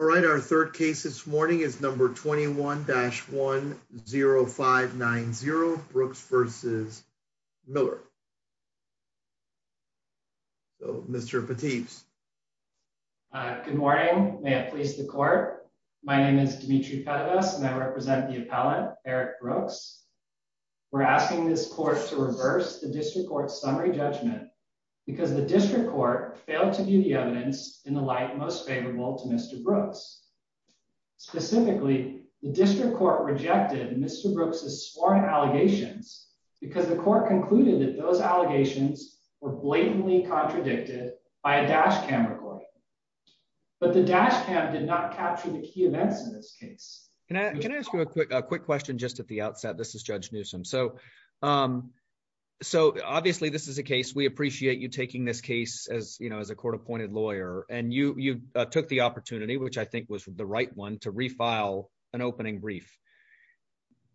All right, our third case this morning is number 21-10590, Brooks v. Miller. Mr. Pateebs. Good morning. May it please the court. My name is Dimitri Pettibas and I represent the appellate, Eric Brooks. We're asking this court to reverse the district court's summary judgment because the district court failed to view the evidence in the light most favorable to Mr. Brooks. Specifically, the district court rejected Mr. Brooks's sworn allegations because the court concluded that those allegations were blatantly contradicted by a dash cam recording. But the dash cam did not capture the key events in this case. Can I ask you a quick question just at the outset? This is Judge Newsom. So obviously this is a case, we appreciate you taking this case as a court-appointed lawyer, and you took the opportunity, which I think was the right one, to refile an opening brief.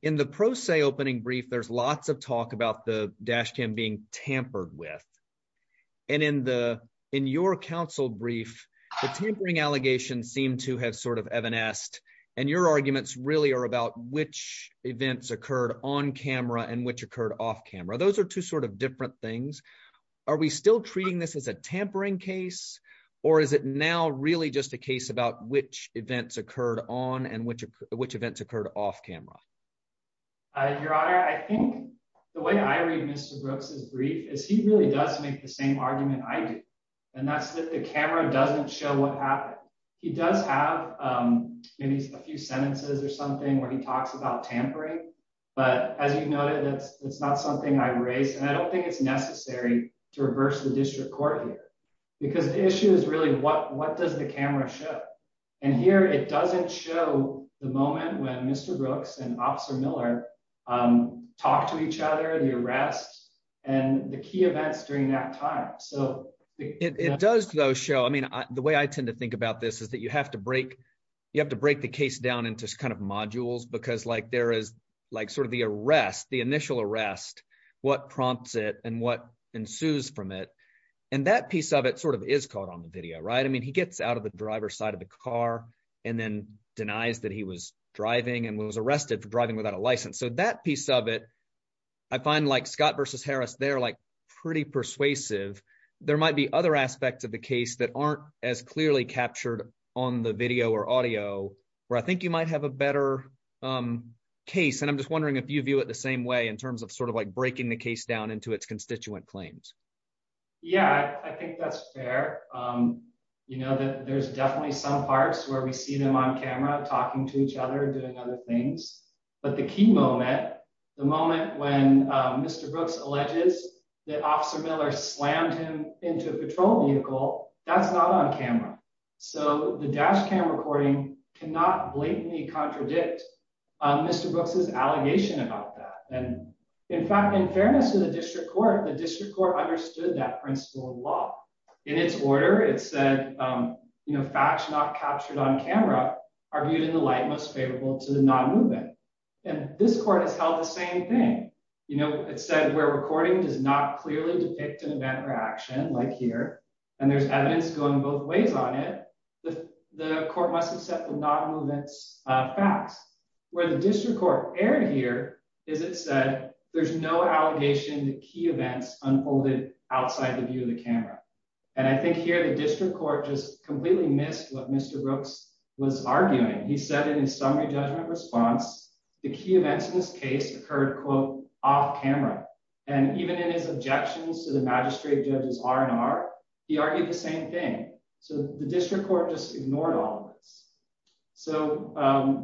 In the pro se opening brief, there's lots of talk about the dash cam being tampered with. And in your counsel brief, the tampering allegations seem to have sort of evanesced, and your arguments really are about which events occurred on camera and which occurred off camera. Those are two sort of different things. Are we still treating this as a tampering case, or is it now really just a case about which events occurred on and which events occurred off camera? Your Honor, I think the way I read Mr. Brooks's brief is he really does make the same argument I do, and that's that the camera doesn't show what happened. He does have maybe a few sentences or something where he talks about tampering, but as you noted, that's not something I raised, and I don't think it's necessary to reverse the district court here. Because the issue is really what does the camera show? And here, it doesn't show the moment when Mr. Brooks and Officer Miller talked to each other, the arrest, and the key events during that time. It does, though, show – I mean, the way I tend to think about this is that you have to break the case down into kind of modules because there is sort of the arrest, the initial arrest, what prompts it and what ensues from it. And that piece of it sort of is caught on the video, right? I mean he gets out of the driver's side of the car and then denies that he was driving and was arrested for driving without a license. So that piece of it, I find Scott v. Harris there pretty persuasive. There might be other aspects of the case that aren't as clearly captured on the video or audio where I think you might have a better case. And I'm just wondering if you view it the same way in terms of sort of like breaking the case down into its constituent claims. Yeah, I think that's fair. You know, there's definitely some parts where we see them on camera talking to each other, doing other things. But the key moment, the moment when Mr. Brooks alleges that Officer Miller slammed him into a patrol vehicle, that's not on camera. So the dash cam recording cannot blatantly contradict Mr. Brooks' allegation about that. And in fact, in fairness to the district court, the district court understood that principle of law. In its order, it said, you know, facts not captured on camera are viewed in the light most favorable to the non-movement. And this court has held the same thing. You know, it said where recording does not clearly depict an event or action like here and there's evidence going both ways on it. The court must accept the non-movement facts. Where the district court erred here is it said there's no allegation that key events unfolded outside the view of the camera. And I think here the district court just completely missed what Mr. Brooks was arguing. He said in his summary judgment response, the key events in this case occurred, quote, off camera. And even in his objections to the magistrate judge's R&R, he argued the same thing. So the district court just ignored all of this. So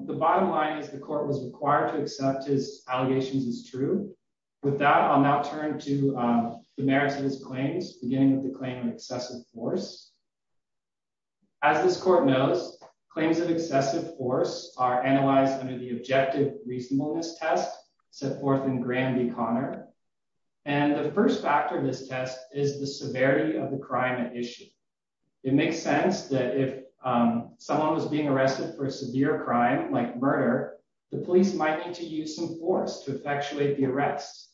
the bottom line is the court was required to accept his allegations as true. With that, I'll now turn to the merits of his claims, beginning with the claim of excessive force. As this court knows, claims of excessive force are analyzed under the objective reasonableness test set forth in Granby Connor. And the first factor of this test is the severity of the crime at issue. It makes sense that if someone was being arrested for a severe crime like murder, the police might need to use some force to effectuate the arrest.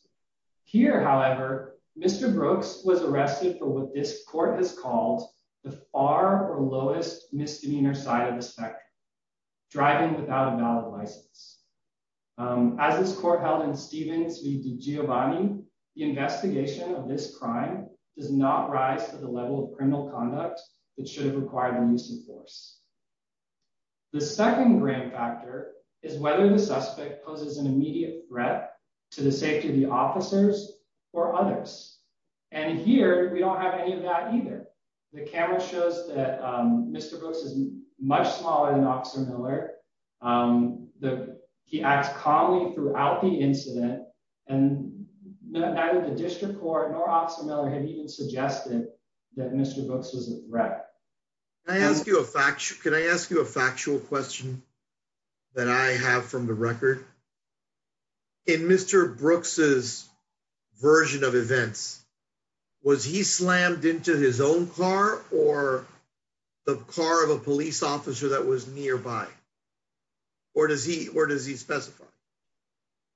Here, however, Mr. Brooks was arrested for what this court has called the far or lowest misdemeanor side of the spectrum, driving without a valid license. As this court held in Stevens v Giovanni, the investigation of this crime does not rise to the level of criminal conduct that should have required the use of force. The second grand factor is whether the suspect poses an immediate threat to the safety of the officers or others. And here we don't have any of that either. The camera shows that Mr. Brooks is much smaller than Officer Miller. He acts calmly throughout the incident, and neither the district court nor Officer Miller had even suggested that Mr. Brooks was a threat. Can I ask you a factual question that I have from the record? In Mr. Brooks's version of events, was he slammed into his own car or the car of a police officer that was nearby? Or does he specify?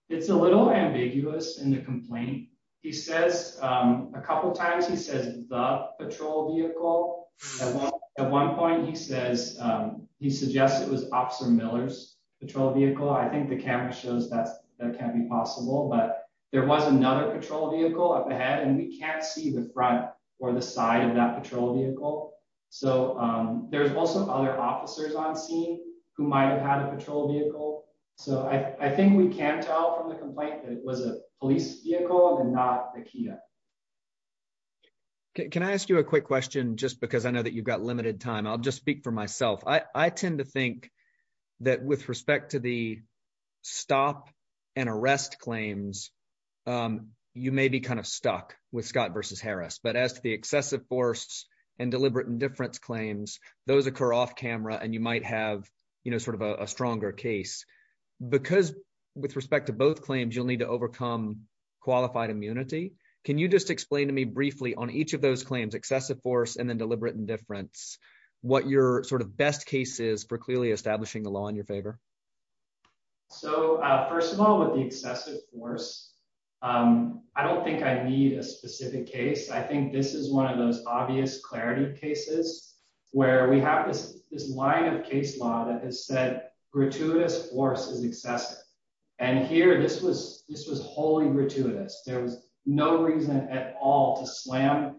It's a little ambiguous in the complaint. He says a couple of times he says the patrol vehicle. At one point, he says he suggests it was Officer Miller's patrol vehicle. I think the camera shows that that can be possible. But there was another patrol vehicle up ahead and we can't see the front or the side of that patrol vehicle. So there's also other officers on scene who might have had a patrol vehicle. So I think we can tell from the complaint that it was a police vehicle and not a Kia. Can I ask you a quick question, just because I know that you've got limited time, I'll just speak for myself. I tend to think that with respect to the stop and arrest claims, you may be kind of stuck with Scott versus Harris. But as to the excessive force and deliberate indifference claims, those occur off camera and you might have sort of a stronger case. Because with respect to both claims, you'll need to overcome qualified immunity. Can you just explain to me briefly on each of those claims, excessive force and then deliberate indifference? What your sort of best case is for clearly establishing the law in your favor? So, first of all, with the excessive force, I don't think I need a specific case. I think this is one of those obvious clarity cases where we have this line of case law that has said gratuitous force is excessive. And here this was this was wholly gratuitous. There was no reason at all to slam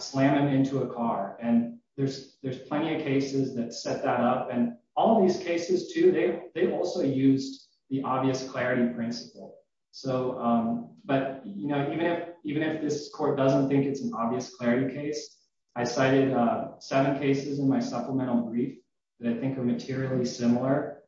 slam it into a car. And there's plenty of cases that set that up. And all these cases, too, they also used the obvious clarity principle. So but, you know, even if even if this court doesn't think it's an obvious clarity case, I cited seven cases in my supplemental brief that I think are materially similar.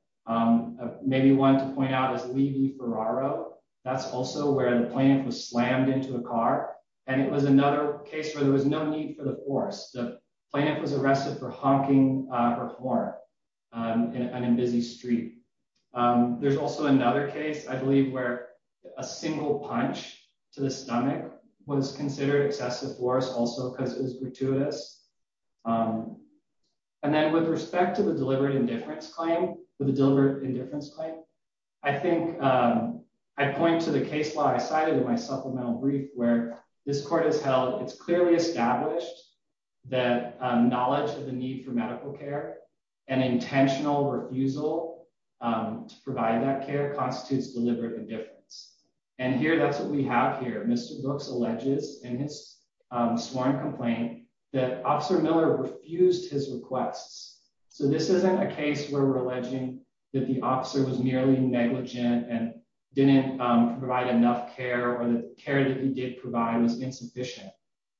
Maybe one to point out is Levy-Ferraro. That's also where the plaintiff was slammed into a car. And it was another case where there was no need for the force. The plaintiff was arrested for honking her horn on a busy street. There's also another case, I believe, where a single punch to the stomach was considered excessive force also because it was gratuitous. And then with respect to the deliberate indifference claim, the deliberate indifference claim, I think I point to the case law I cited in my supplemental brief where this court has held it's clearly established that knowledge of the need for medical care and intentional refusal to provide that care constitutes deliberate indifference. And here, that's what we have here. Mr. Brooks alleges in his sworn complaint that Officer Miller refused his requests. So this isn't a case where we're alleging that the officer was merely negligent and didn't provide enough care or the care that he did provide was insufficient.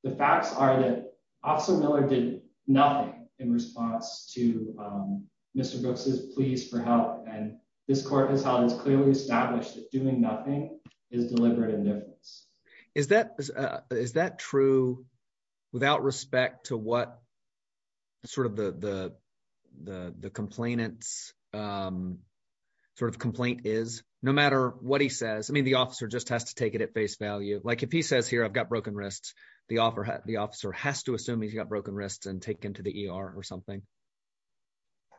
The facts are that Officer Miller did nothing in response to Mr. Brooks' pleas for help. And this court has held it's clearly established that doing nothing is deliberate indifference. Is that true without respect to what sort of the complainant's sort of complaint is? No matter what he says, I mean the officer just has to take it at face value. Like if he says here I've got broken wrists, the officer has to assume he's got broken wrists and take him to the ER or something.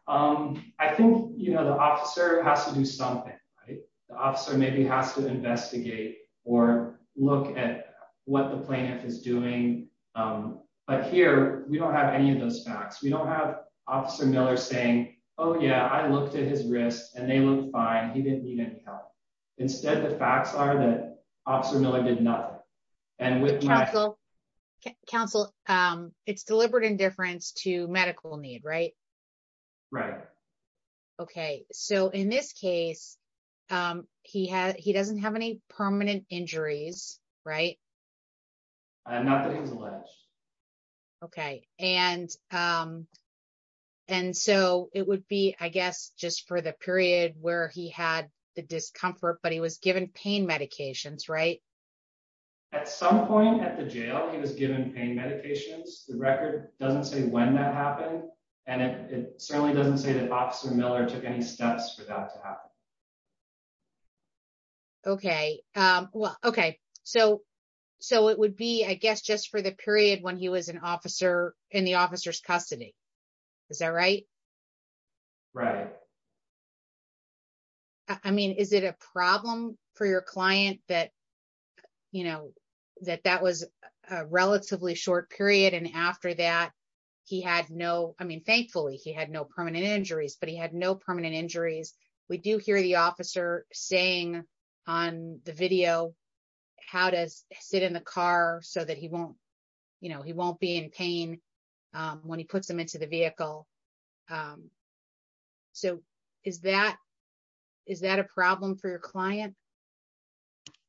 I think the officer has to do something. The officer maybe has to investigate or look at what the plaintiff is doing. But here, we don't have any of those facts. We don't have Officer Miller saying, oh yeah, I looked at his wrists and they look fine, he didn't need any help. Instead, the facts are that Officer Miller did nothing. Counsel, it's deliberate indifference to medical need, right? Right. Okay, so in this case, he doesn't have any permanent injuries, right? Not that he's alleged. Okay, and so it would be, I guess, just for the period where he had the discomfort but he was given pain medications, right? At some point at the jail, he was given pain medications. The record doesn't say when that happened and it certainly doesn't say that Officer Miller took any steps for that to happen. Okay, so it would be, I guess, just for the period when he was in the officer's custody. Is that right? Right. I mean, is it a problem for your client that, you know, that that was a relatively short period and after that, he had no, I mean, thankfully, he had no permanent injuries, but he had no permanent injuries. We do hear the officer saying on the video, how to sit in the car so that he won't, you know, he won't be in pain when he puts them into the vehicle. So, is that a problem for your client?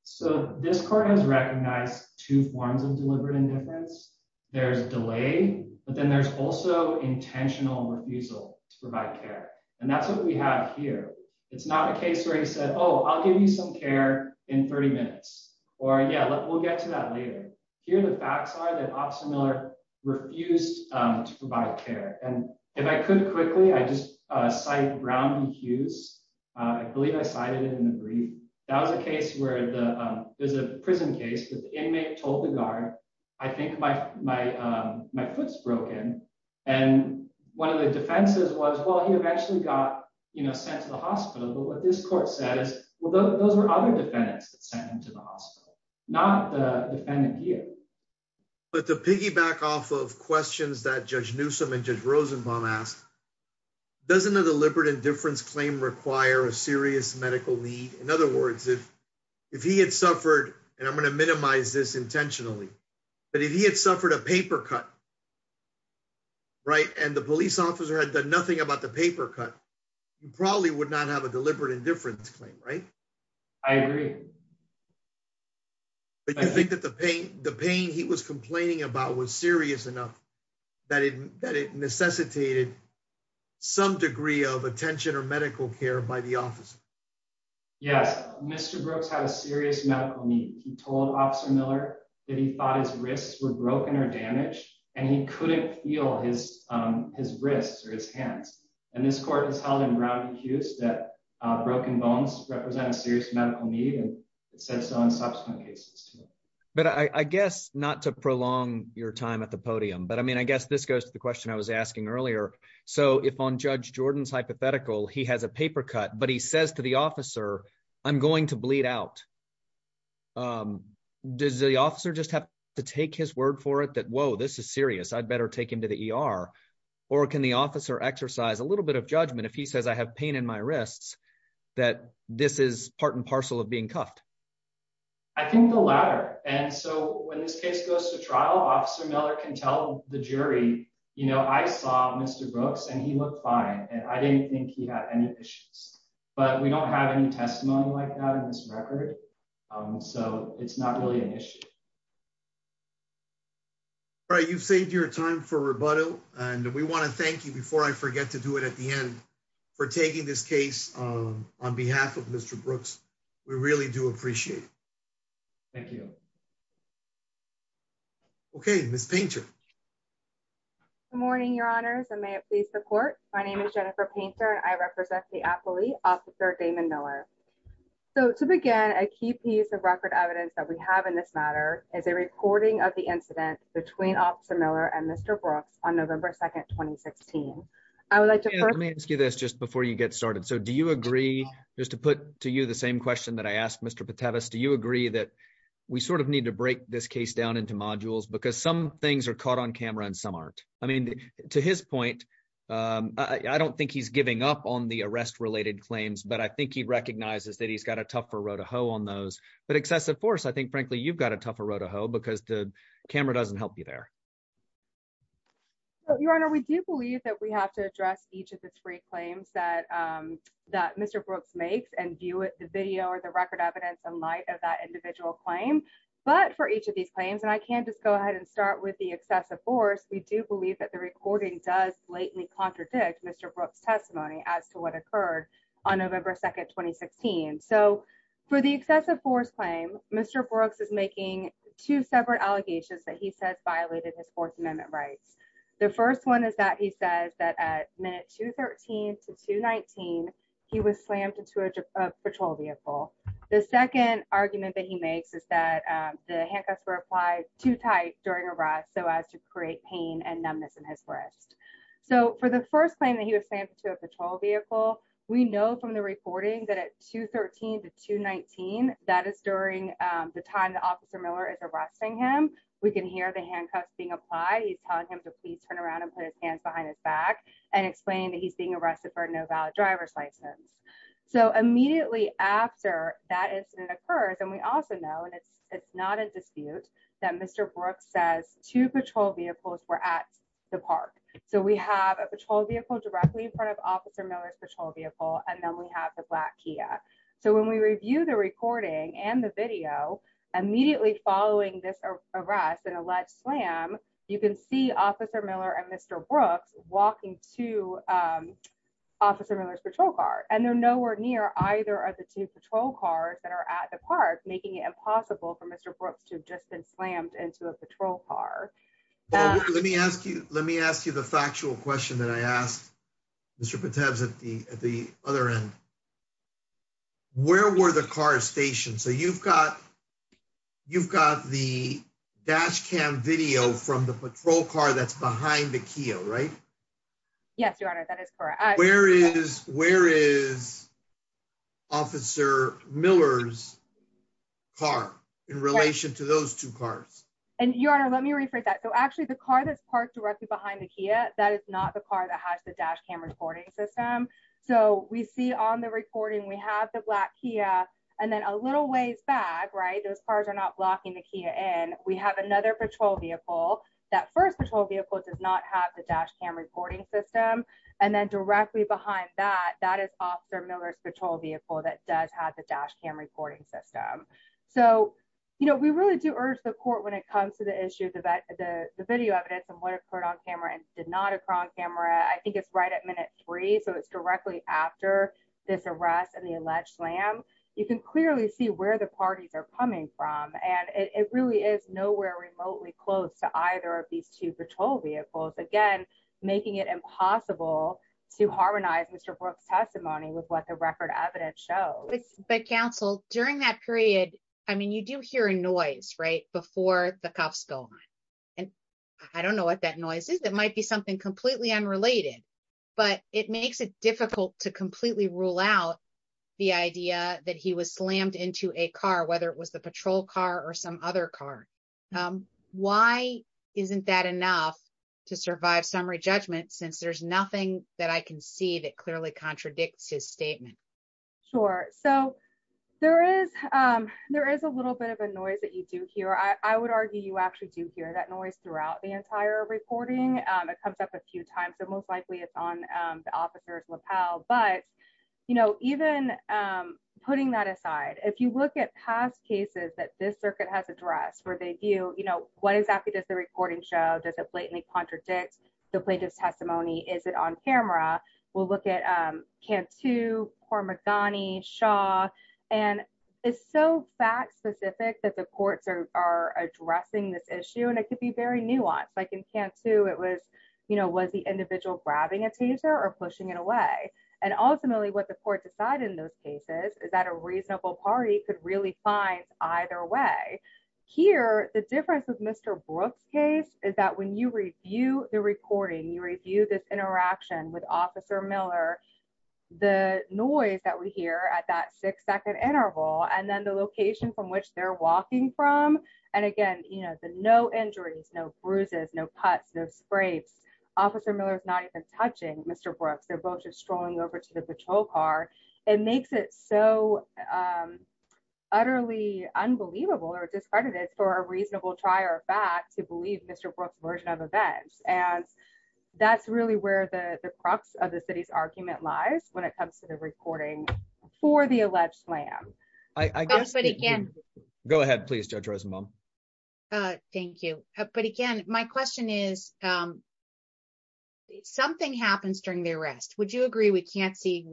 So, this court has recognized two forms of deliberate indifference. There's delay, but then there's also intentional refusal to provide care, and that's what we have here. It's not a case where he said, oh, I'll give you some care in 30 minutes, or yeah, we'll get to that later. Here the facts are that Officer Miller refused to provide care, and if I could quickly, I just cite Brown v. Hughes. I believe I cited it in the brief. That was a case where there's a prison case that the inmate told the guard, I think my foot's broken, and one of the defenses was, well, he eventually got, you know, sent to the hospital, but what this court says, well, those are other defendants that sent him to the hospital, not the defendant here. But to piggyback off of questions that Judge Newsome and Judge Rosenbaum asked, doesn't a deliberate indifference claim require a serious medical need? In other words, if he had suffered, and I'm going to minimize this intentionally, but if he had suffered a paper cut, right, and the police officer had done nothing about the paper cut, you probably would not have a deliberate indifference claim, right? I agree. But you think that the pain he was complaining about was serious enough that it necessitated some degree of attention or medical care by the officer? Yes, Mr. Brooks had a serious medical need. He told Officer Miller that he thought his wrists were broken or damaged, and he couldn't feel his wrists or his hands. And this court has held in Brown v. Hughes that broken bones represent a serious medical need, and it says so in subsequent cases. But I guess, not to prolong your time at the podium, but I mean, I guess this goes to the question I was asking earlier. So if on Judge Jordan's hypothetical, he has a paper cut, but he says to the officer, I'm going to bleed out, does the officer just have to take his word for it that, whoa, this is serious, I'd better take him to the ER? Or can the officer exercise a little bit of judgment if he says I have pain in my wrists, that this is part and parcel of being cuffed? I think the latter. And so when this case goes to trial, Officer Miller can tell the jury, you know, I saw Mr. Brooks and he looked fine, and I didn't think he had any issues. But we don't have any testimony like that in this record. So it's not really an issue. All right, you've saved your time for rebuttal, and we want to thank you before I forget to do it at the end for taking this case on behalf of Mr. Brooks. We really do appreciate it. Thank you. Okay, Miss Painter. Good morning, Your Honors, and may it please the court. My name is Jennifer Painter and I represent the appellee, Officer Damon Miller. So to begin, a key piece of record evidence that we have in this matter is a recording of the incident between Officer Miller and Mr. Brooks on November 2, 2016. Let me ask you this just before you get started. So do you agree, just to put to you the same question that I asked Mr. Patevas, do you agree that we sort of need to break this case down into modules because some things are caught on camera and some aren't? I mean, to his point, I don't think he's giving up on the arrest-related claims, but I think he recognizes that he's got a tougher road to hoe on those. But excessive force, I think, frankly, you've got a tougher road to hoe because the camera doesn't help you there. Your Honor, we do believe that we have to address each of the three claims that Mr. Brooks makes and view the video or the record evidence in light of that individual claim. But for each of these claims, and I can just go ahead and start with the excessive force, we do believe that the recording does blatantly contradict Mr. Brooks' testimony as to what occurred on November 2, 2016. So for the excessive force claim, Mr. Brooks is making two separate allegations that he says violated his Fourth Amendment rights. The first one is that he says that at minute 213 to 219, he was slammed into a patrol vehicle. The second argument that he makes is that the handcuffs were applied too tight during arrest so as to create pain and numbness in his wrist. So for the first claim that he was slammed into a patrol vehicle, we know from the recording that at 213 to 219, that is during the time that Officer Miller is arresting him, we can hear the handcuffs being applied. He's telling him to please turn around and put his hands behind his back and explaining that he's being arrested for a no valid driver's license. So immediately after that incident occurs, and we also know, and it's not a dispute, that Mr. Brooks says two patrol vehicles were at the park. So we have a patrol vehicle directly in front of Officer Miller's patrol vehicle, and then we have the black Kia. So when we review the recording and the video, immediately following this arrest and alleged slam, you can see Officer Miller and Mr. Brooks walking to Officer Miller's patrol car. And they're nowhere near either of the two patrol cars that are at the park, making it impossible for Mr. Brooks to have just been slammed into a patrol car. Let me ask you the factual question that I asked Mr. Patev at the other end. Where were the cars stationed? So you've got the dash cam video from the patrol car that's behind the Kia, right? Yes, Your Honor, that is correct. Where is Officer Miller's car in relation to those two cars? And Your Honor, let me rephrase that. So actually, the car that's parked directly behind the Kia, that is not the car that has the dash cam recording system. So we see on the recording, we have the black Kia and then a little ways back, right, those cars are not blocking the Kia in. We have another patrol vehicle. That first patrol vehicle does not have the dash cam recording system. And then directly behind that, that is Officer Miller's patrol vehicle that does have the dash cam recording system. So, you know, we really do urge the court when it comes to the issue of the video evidence and what occurred on camera and did not occur on camera. I think it's right at minute three. So it's directly after this arrest and the alleged slam. You can clearly see where the parties are coming from. And it really is nowhere remotely close to either of these two patrol vehicles. Again, making it impossible to harmonize Mr. Brooks' testimony with what the record evidence shows. But Council, during that period, I mean, you do hear a noise, right, before the cuffs go on. And I don't know what that noise is. It might be something completely unrelated. But it makes it difficult to completely rule out the idea that he was slammed into a car, whether it was the patrol car or some other car. Why isn't that enough to survive summary judgment since there's nothing that I can see that clearly contradicts his statement? Sure. So there is there is a little bit of a noise that you do hear. I would argue you actually do hear that noise throughout the entire recording. It comes up a few times. So most likely it's on the officer's lapel. But, you know, even putting that aside, if you look at past cases that this circuit has addressed where they view, you know, what exactly does the recording show? Does it blatantly contradict the plaintiff's testimony? Is it on camera? We'll look at Cantu, Kormeghani, Shaw. And it's so fact specific that the courts are addressing this issue and it could be very nuanced. Like in Cantu, it was, you know, was the individual grabbing a taser or pushing it away? And ultimately what the court decided in those cases is that a reasonable party could really find either way. Here, the difference with Mr. Brooks case is that when you review the recording, you review this interaction with Officer Miller, the noise that we hear at that six second interval and then the location from which they're walking from. And again, you know, the no injuries, no bruises, no cuts, no scrapes. Officer Miller is not even touching Mr. Brooks. They're both just strolling over to the patrol car. It makes it so utterly unbelievable or discredited for a reasonable trier of fact to believe Mr. Brooks' version of events. And that's really where the crux of the city's argument lies when it comes to the recording for the alleged slam. Go ahead, please, Judge Rosenbaum. Thank you. But again, my question is, something happens during the arrest. Would you agree we can't see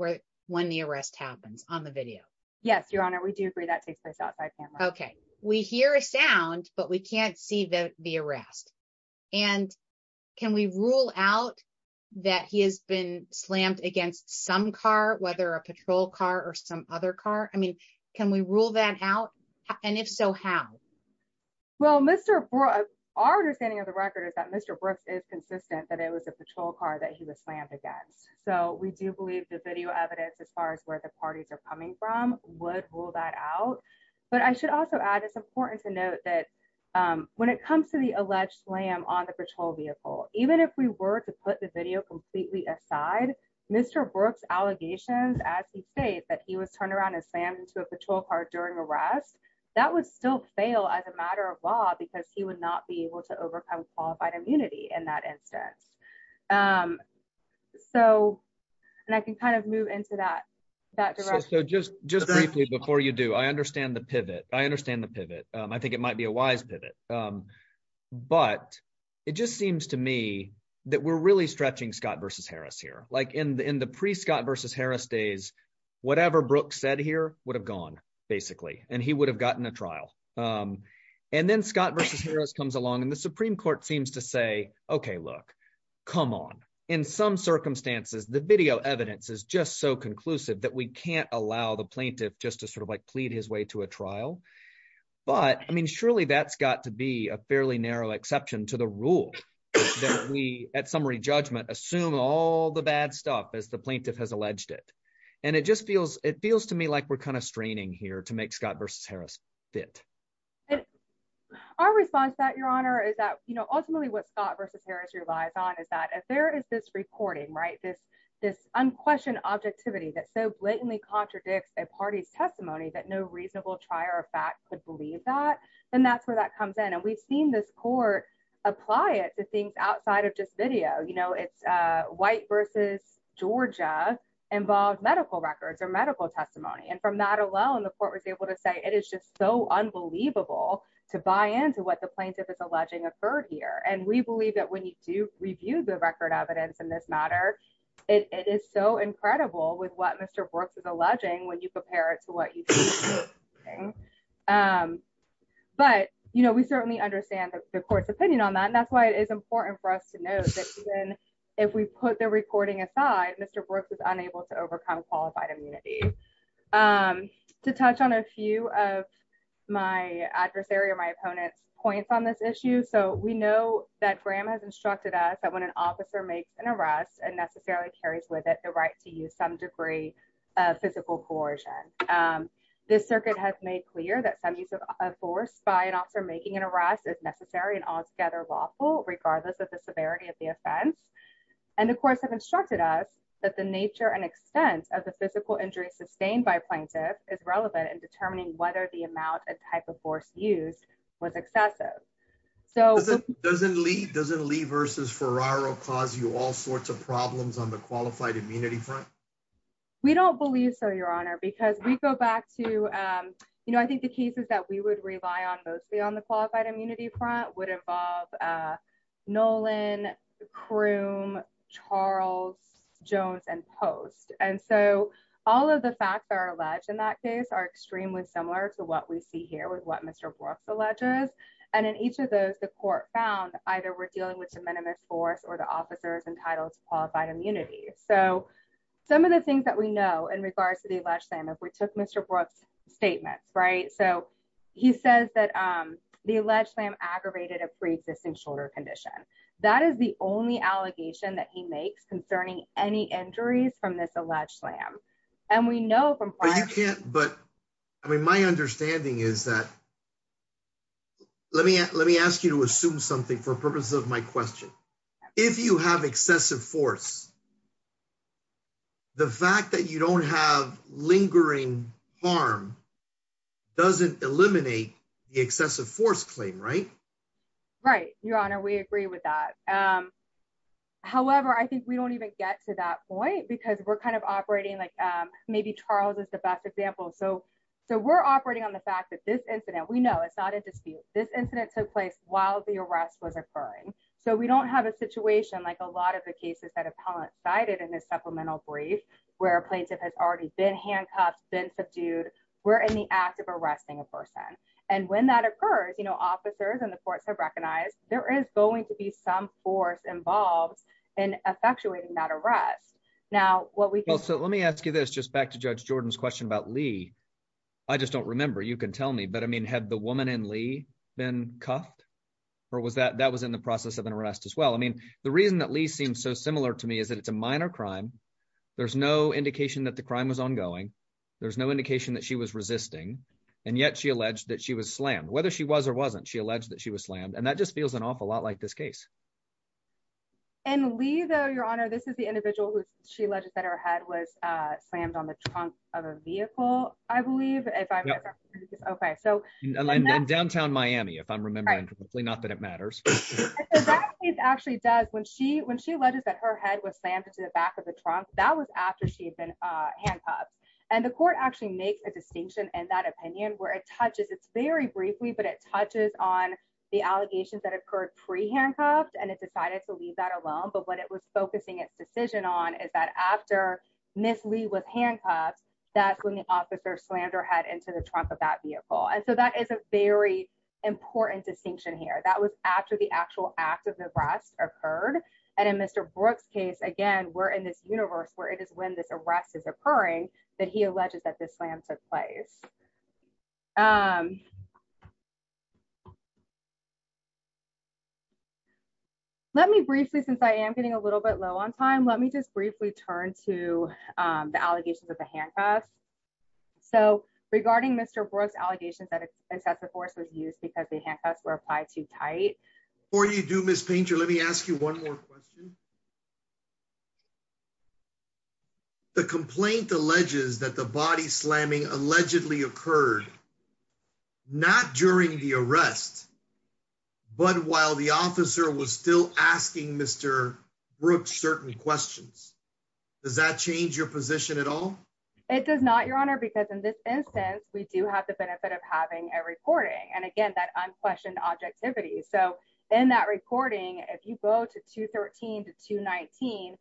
when the arrest happens on the video? Yes, Your Honor. We do agree that takes place outside camera. Okay. We hear a sound, but we can't see the arrest. And can we rule out that he has been slammed against some car, whether a patrol car or some other car? I mean, can we rule that out? And if so, how? Well, Mr. Brooks, our understanding of the record is that Mr. Brooks is consistent that it was a patrol car that he was slammed against. So we do believe the video evidence as far as where the parties are coming from would rule that out. But I should also add, it's important to note that when it comes to the alleged slam on the patrol vehicle, even if we were to put the video completely aside, Mr. Brooks' allegations as he states that he was turned around and slammed into a patrol car during arrest, that would still fail as a matter of law because he would not be able to overcome qualified immunity in that instance. So, and I can kind of move into that, that direction. So just briefly before you do, I understand the pivot. I understand the pivot. I think it might be a wise pivot. But it just seems to me that we're really stretching Scott v. Harris here. Like in the pre-Scott v. Harris days, whatever Brooks said here would have gone, basically, and he would have gotten a trial. And then Scott v. Harris comes along and the Supreme Court seems to say, OK, look, come on. In some circumstances, the video evidence is just so conclusive that we can't allow the plaintiff just to sort of like plead his way to a trial. But, I mean, surely that's got to be a fairly narrow exception to the rule that we, at summary judgment, assume all the bad stuff as the plaintiff has alleged it. And it just feels, it feels to me like we're kind of straining here to make Scott v. Harris fit. Our response to that, Your Honor, is that ultimately what Scott v. Harris relies on is that if there is this recording, right, this unquestioned objectivity that so blatantly contradicts a party's testimony that no reasonable trier of fact could believe that, then that's where that comes in. And we've seen this court apply it to things outside of just video. You know, it's White v. Georgia involved medical records or medical testimony. And from that alone, the court was able to say it is just so unbelievable to buy into what the plaintiff is alleging occurred here. And we believe that when you do review the record evidence in this matter, it is so incredible with what Mr. Brooks is alleging when you compare it to what you see. But, you know, we certainly understand the court's opinion on that. And that's why it is important for us to know that if we put the recording aside, Mr. Brooks was unable to overcome qualified immunity. To touch on a few of my adversary or my opponent's points on this issue. So we know that Graham has instructed us that when an officer makes an arrest and necessarily carries with it the right to use some degree of physical coercion. This circuit has made clear that some use of force by an officer making an arrest is necessary and altogether lawful, regardless of the severity of the offense. And the courts have instructed us that the nature and extent of the physical injury sustained by plaintiff is relevant in determining whether the amount and type of force used was excessive. So doesn't Lee doesn't leave versus Ferraro cause you all sorts of problems on the qualified immunity front. We don't believe so, Your Honor, because we go back to, you know, I think the cases that we would rely on both be on the qualified immunity front would involve Nolan crew Charles Jones and post. And so, all of the facts are alleged in that case are extremely similar to what we see here with what Mr. Brooks alleges, and in each of those the court found either we're dealing with the minimum force or the officers entitled to qualified immunity. So, some of the things that we know in regards to the last time if we took Mr. Brooks statements right so he says that the alleged lamb aggravated a pre existing shoulder condition. That is the only allegation that he makes concerning any injuries from this alleged slam. And we know from, but I mean my understanding is that. Let me, let me ask you to assume something for purposes of my question. If you have excessive force. The fact that you don't have lingering harm doesn't eliminate the excessive force claim right. Right, Your Honor, we agree with that. However, I think we don't even get to that point because we're kind of operating like maybe Charles is the best example so so we're operating on the fact that this incident we know it's not a dispute, this incident took place, while the arrest was occurring. So we don't have a situation like a lot of the cases that have highlighted in this supplemental brief, where a plaintiff has already been handcuffed been subdued were in the act of arresting a person. And when that occurs you know officers and the courts have recognized, there is going to be some force involved in effectuating that arrest. Now, what we also let me ask you this just back to judge Jordan's question about Lee. I just don't remember you can tell me but I mean had the woman in Lee been cuffed. Or was that that was in the process of an arrest as well I mean, the reason that Lee seems so similar to me is that it's a minor crime. There's no indication that the crime was ongoing. There's no indication that she was resisting. And yet she alleged that she was slammed whether she was or wasn't she alleged that she was slammed and that just feels an awful lot like this case, and leave your honor this is the individual who she alleged that her head was slammed on the trunk of a vehicle, I believe, if I'm okay so downtown Miami if I'm remembering correctly not that it matters. It's actually does when she when she alleged that her head was slammed into the back of the trunk that was after she had been handcuffed, and the court actually makes a distinction and that opinion where it touches it's very briefly but it touches on the allegations that occurred pre handcuffed and it decided to leave that alone but what it was focusing its decision on is that after Miss Lee was handcuffed. That's when the officer slander had into the trunk of that vehicle and so that is a very important distinction here that was after the actual act of the breast occurred. And in Mr. Brooks case again we're in this universe where it is when this arrest is occurring, that he alleges that this land took place. Um, let me briefly since I am getting a little bit low on time let me just briefly turn to the allegations of the handcuffs. So, regarding Mr Brooks allegations that excessive force was used because the handcuffs were applied too tight for you do Miss painter let me ask you one more question. The complaint alleges that the body slamming allegedly occurred. Not during the arrest. But while the officer was still asking Mr. Brooks certain questions. Does that change your position at all. It does not your honor because in this instance we do have the benefit of having a recording and again that unquestioned objectivity so in that recording, if you go to 213 to 219.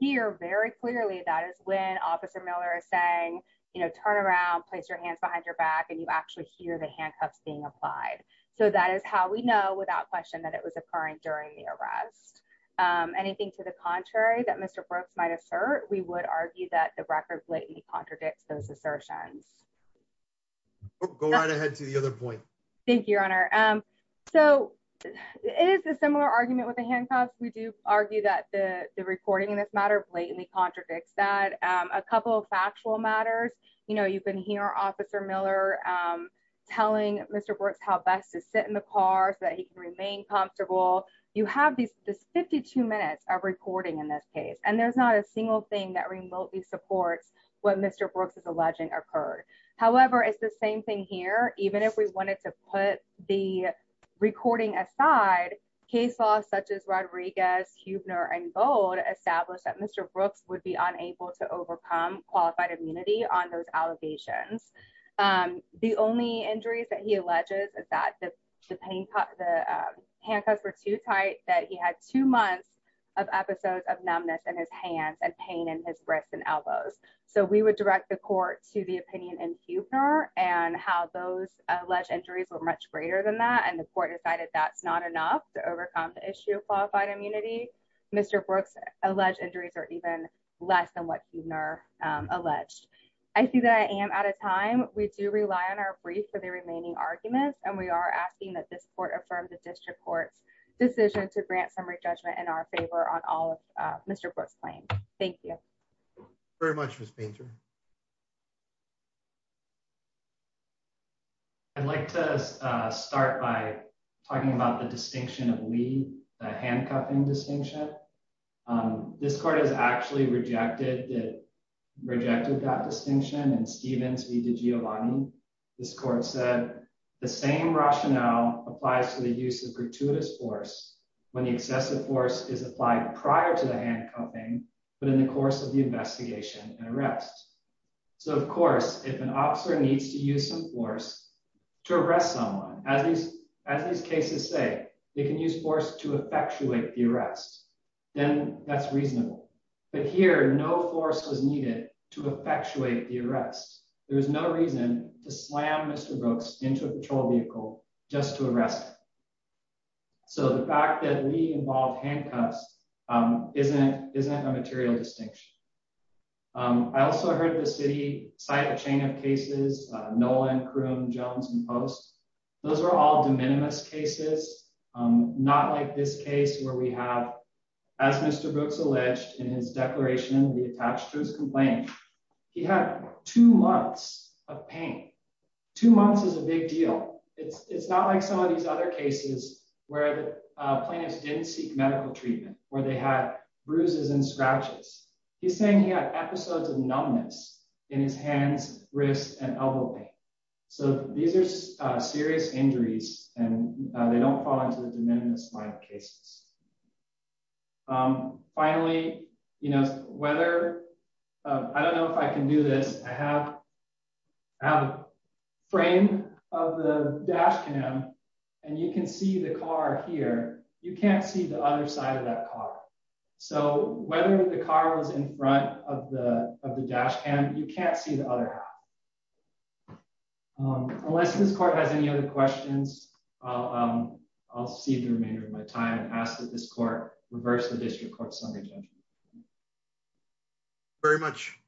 Here very clearly that is when Officer Miller is saying, you know, turn around, place your hands behind your back and you actually hear the handcuffs being applied. So that is how we know without question that it was occurring during the arrest. Anything to the contrary that Mr Brooks might assert we would argue that the record blatantly contradicts those assertions. Go right ahead to the other point. Thank you, Your Honor. So, it is a similar argument with the handcuffs we do argue that the recording in this matter blatantly contradicts that a couple of factual matters, you know you've been here officer Miller, telling Mr Brooks how best to sit in the car so that he can remain comfortable. You have these 52 minutes of recording in this case and there's not a single thing that remotely supports what Mr Brooks is alleging occurred. However, it's the same thing here, even if we wanted to put the recording aside case laws such as Rodriguez Huebner and gold established that Mr Brooks would be unable to overcome qualified immunity on those allegations. The only injuries that he alleges is that the handcuffs were too tight that he had two months of episodes of numbness in his hands and pain in his wrists and elbows. So we would direct the court to the opinion and Huebner and how those alleged injuries were much greater than that and the court decided that's not enough to overcome the issue of qualified immunity. Mr Brooks alleged injuries are even less than what you've never alleged. I see that I am at a time, we do rely on our brief for the remaining arguments and we are asking that this court affirmed the district courts decision to grant summary judgment in our favor on all of Mr Brooks claim. Thank you very much was painter. I'd like to start by talking about the distinction of we handcuffing distinction. This part is actually rejected rejected that distinction and Steven's video on this court said the same rationale applies to the use of gratuitous force when the excessive force is applied prior to the handcuffing, but in the course of the investigation So of course, if an officer needs to use some force to arrest someone as these as these cases say they can use force to effectuate the arrest, then that's reasonable, but here no force was needed to effectuate the arrest. There was no reason to slam Mr Brooks into a patrol vehicle, just to arrest. So the fact that we involve handcuffs isn't isn't a material distinction. I also heard the city side of chain of cases, Nolan crew Jones and post. Those are all de minimis cases, not like this case where we have, as Mr Brooks alleged in his declaration the attached to his complaint. He had two months of pain, two months is a big deal. It's not like some of these other cases where plaintiffs didn't seek medical treatment, where they had bruises and scratches. He's saying he had episodes of numbness in his hands, wrist and elbow. So, these are serious injuries, and they don't fall into the de minimis cases. Finally, you know, whether. I don't know if I can do this, I have a frame of the dash cam, and you can see the car here, you can't see the other side of that car. So, whether the car was in front of the dash cam, you can't see the other. Unless this court has any other questions. I'll, I'll see the remainder of my time and ask that this court reverse the district court summary judgment. Very much.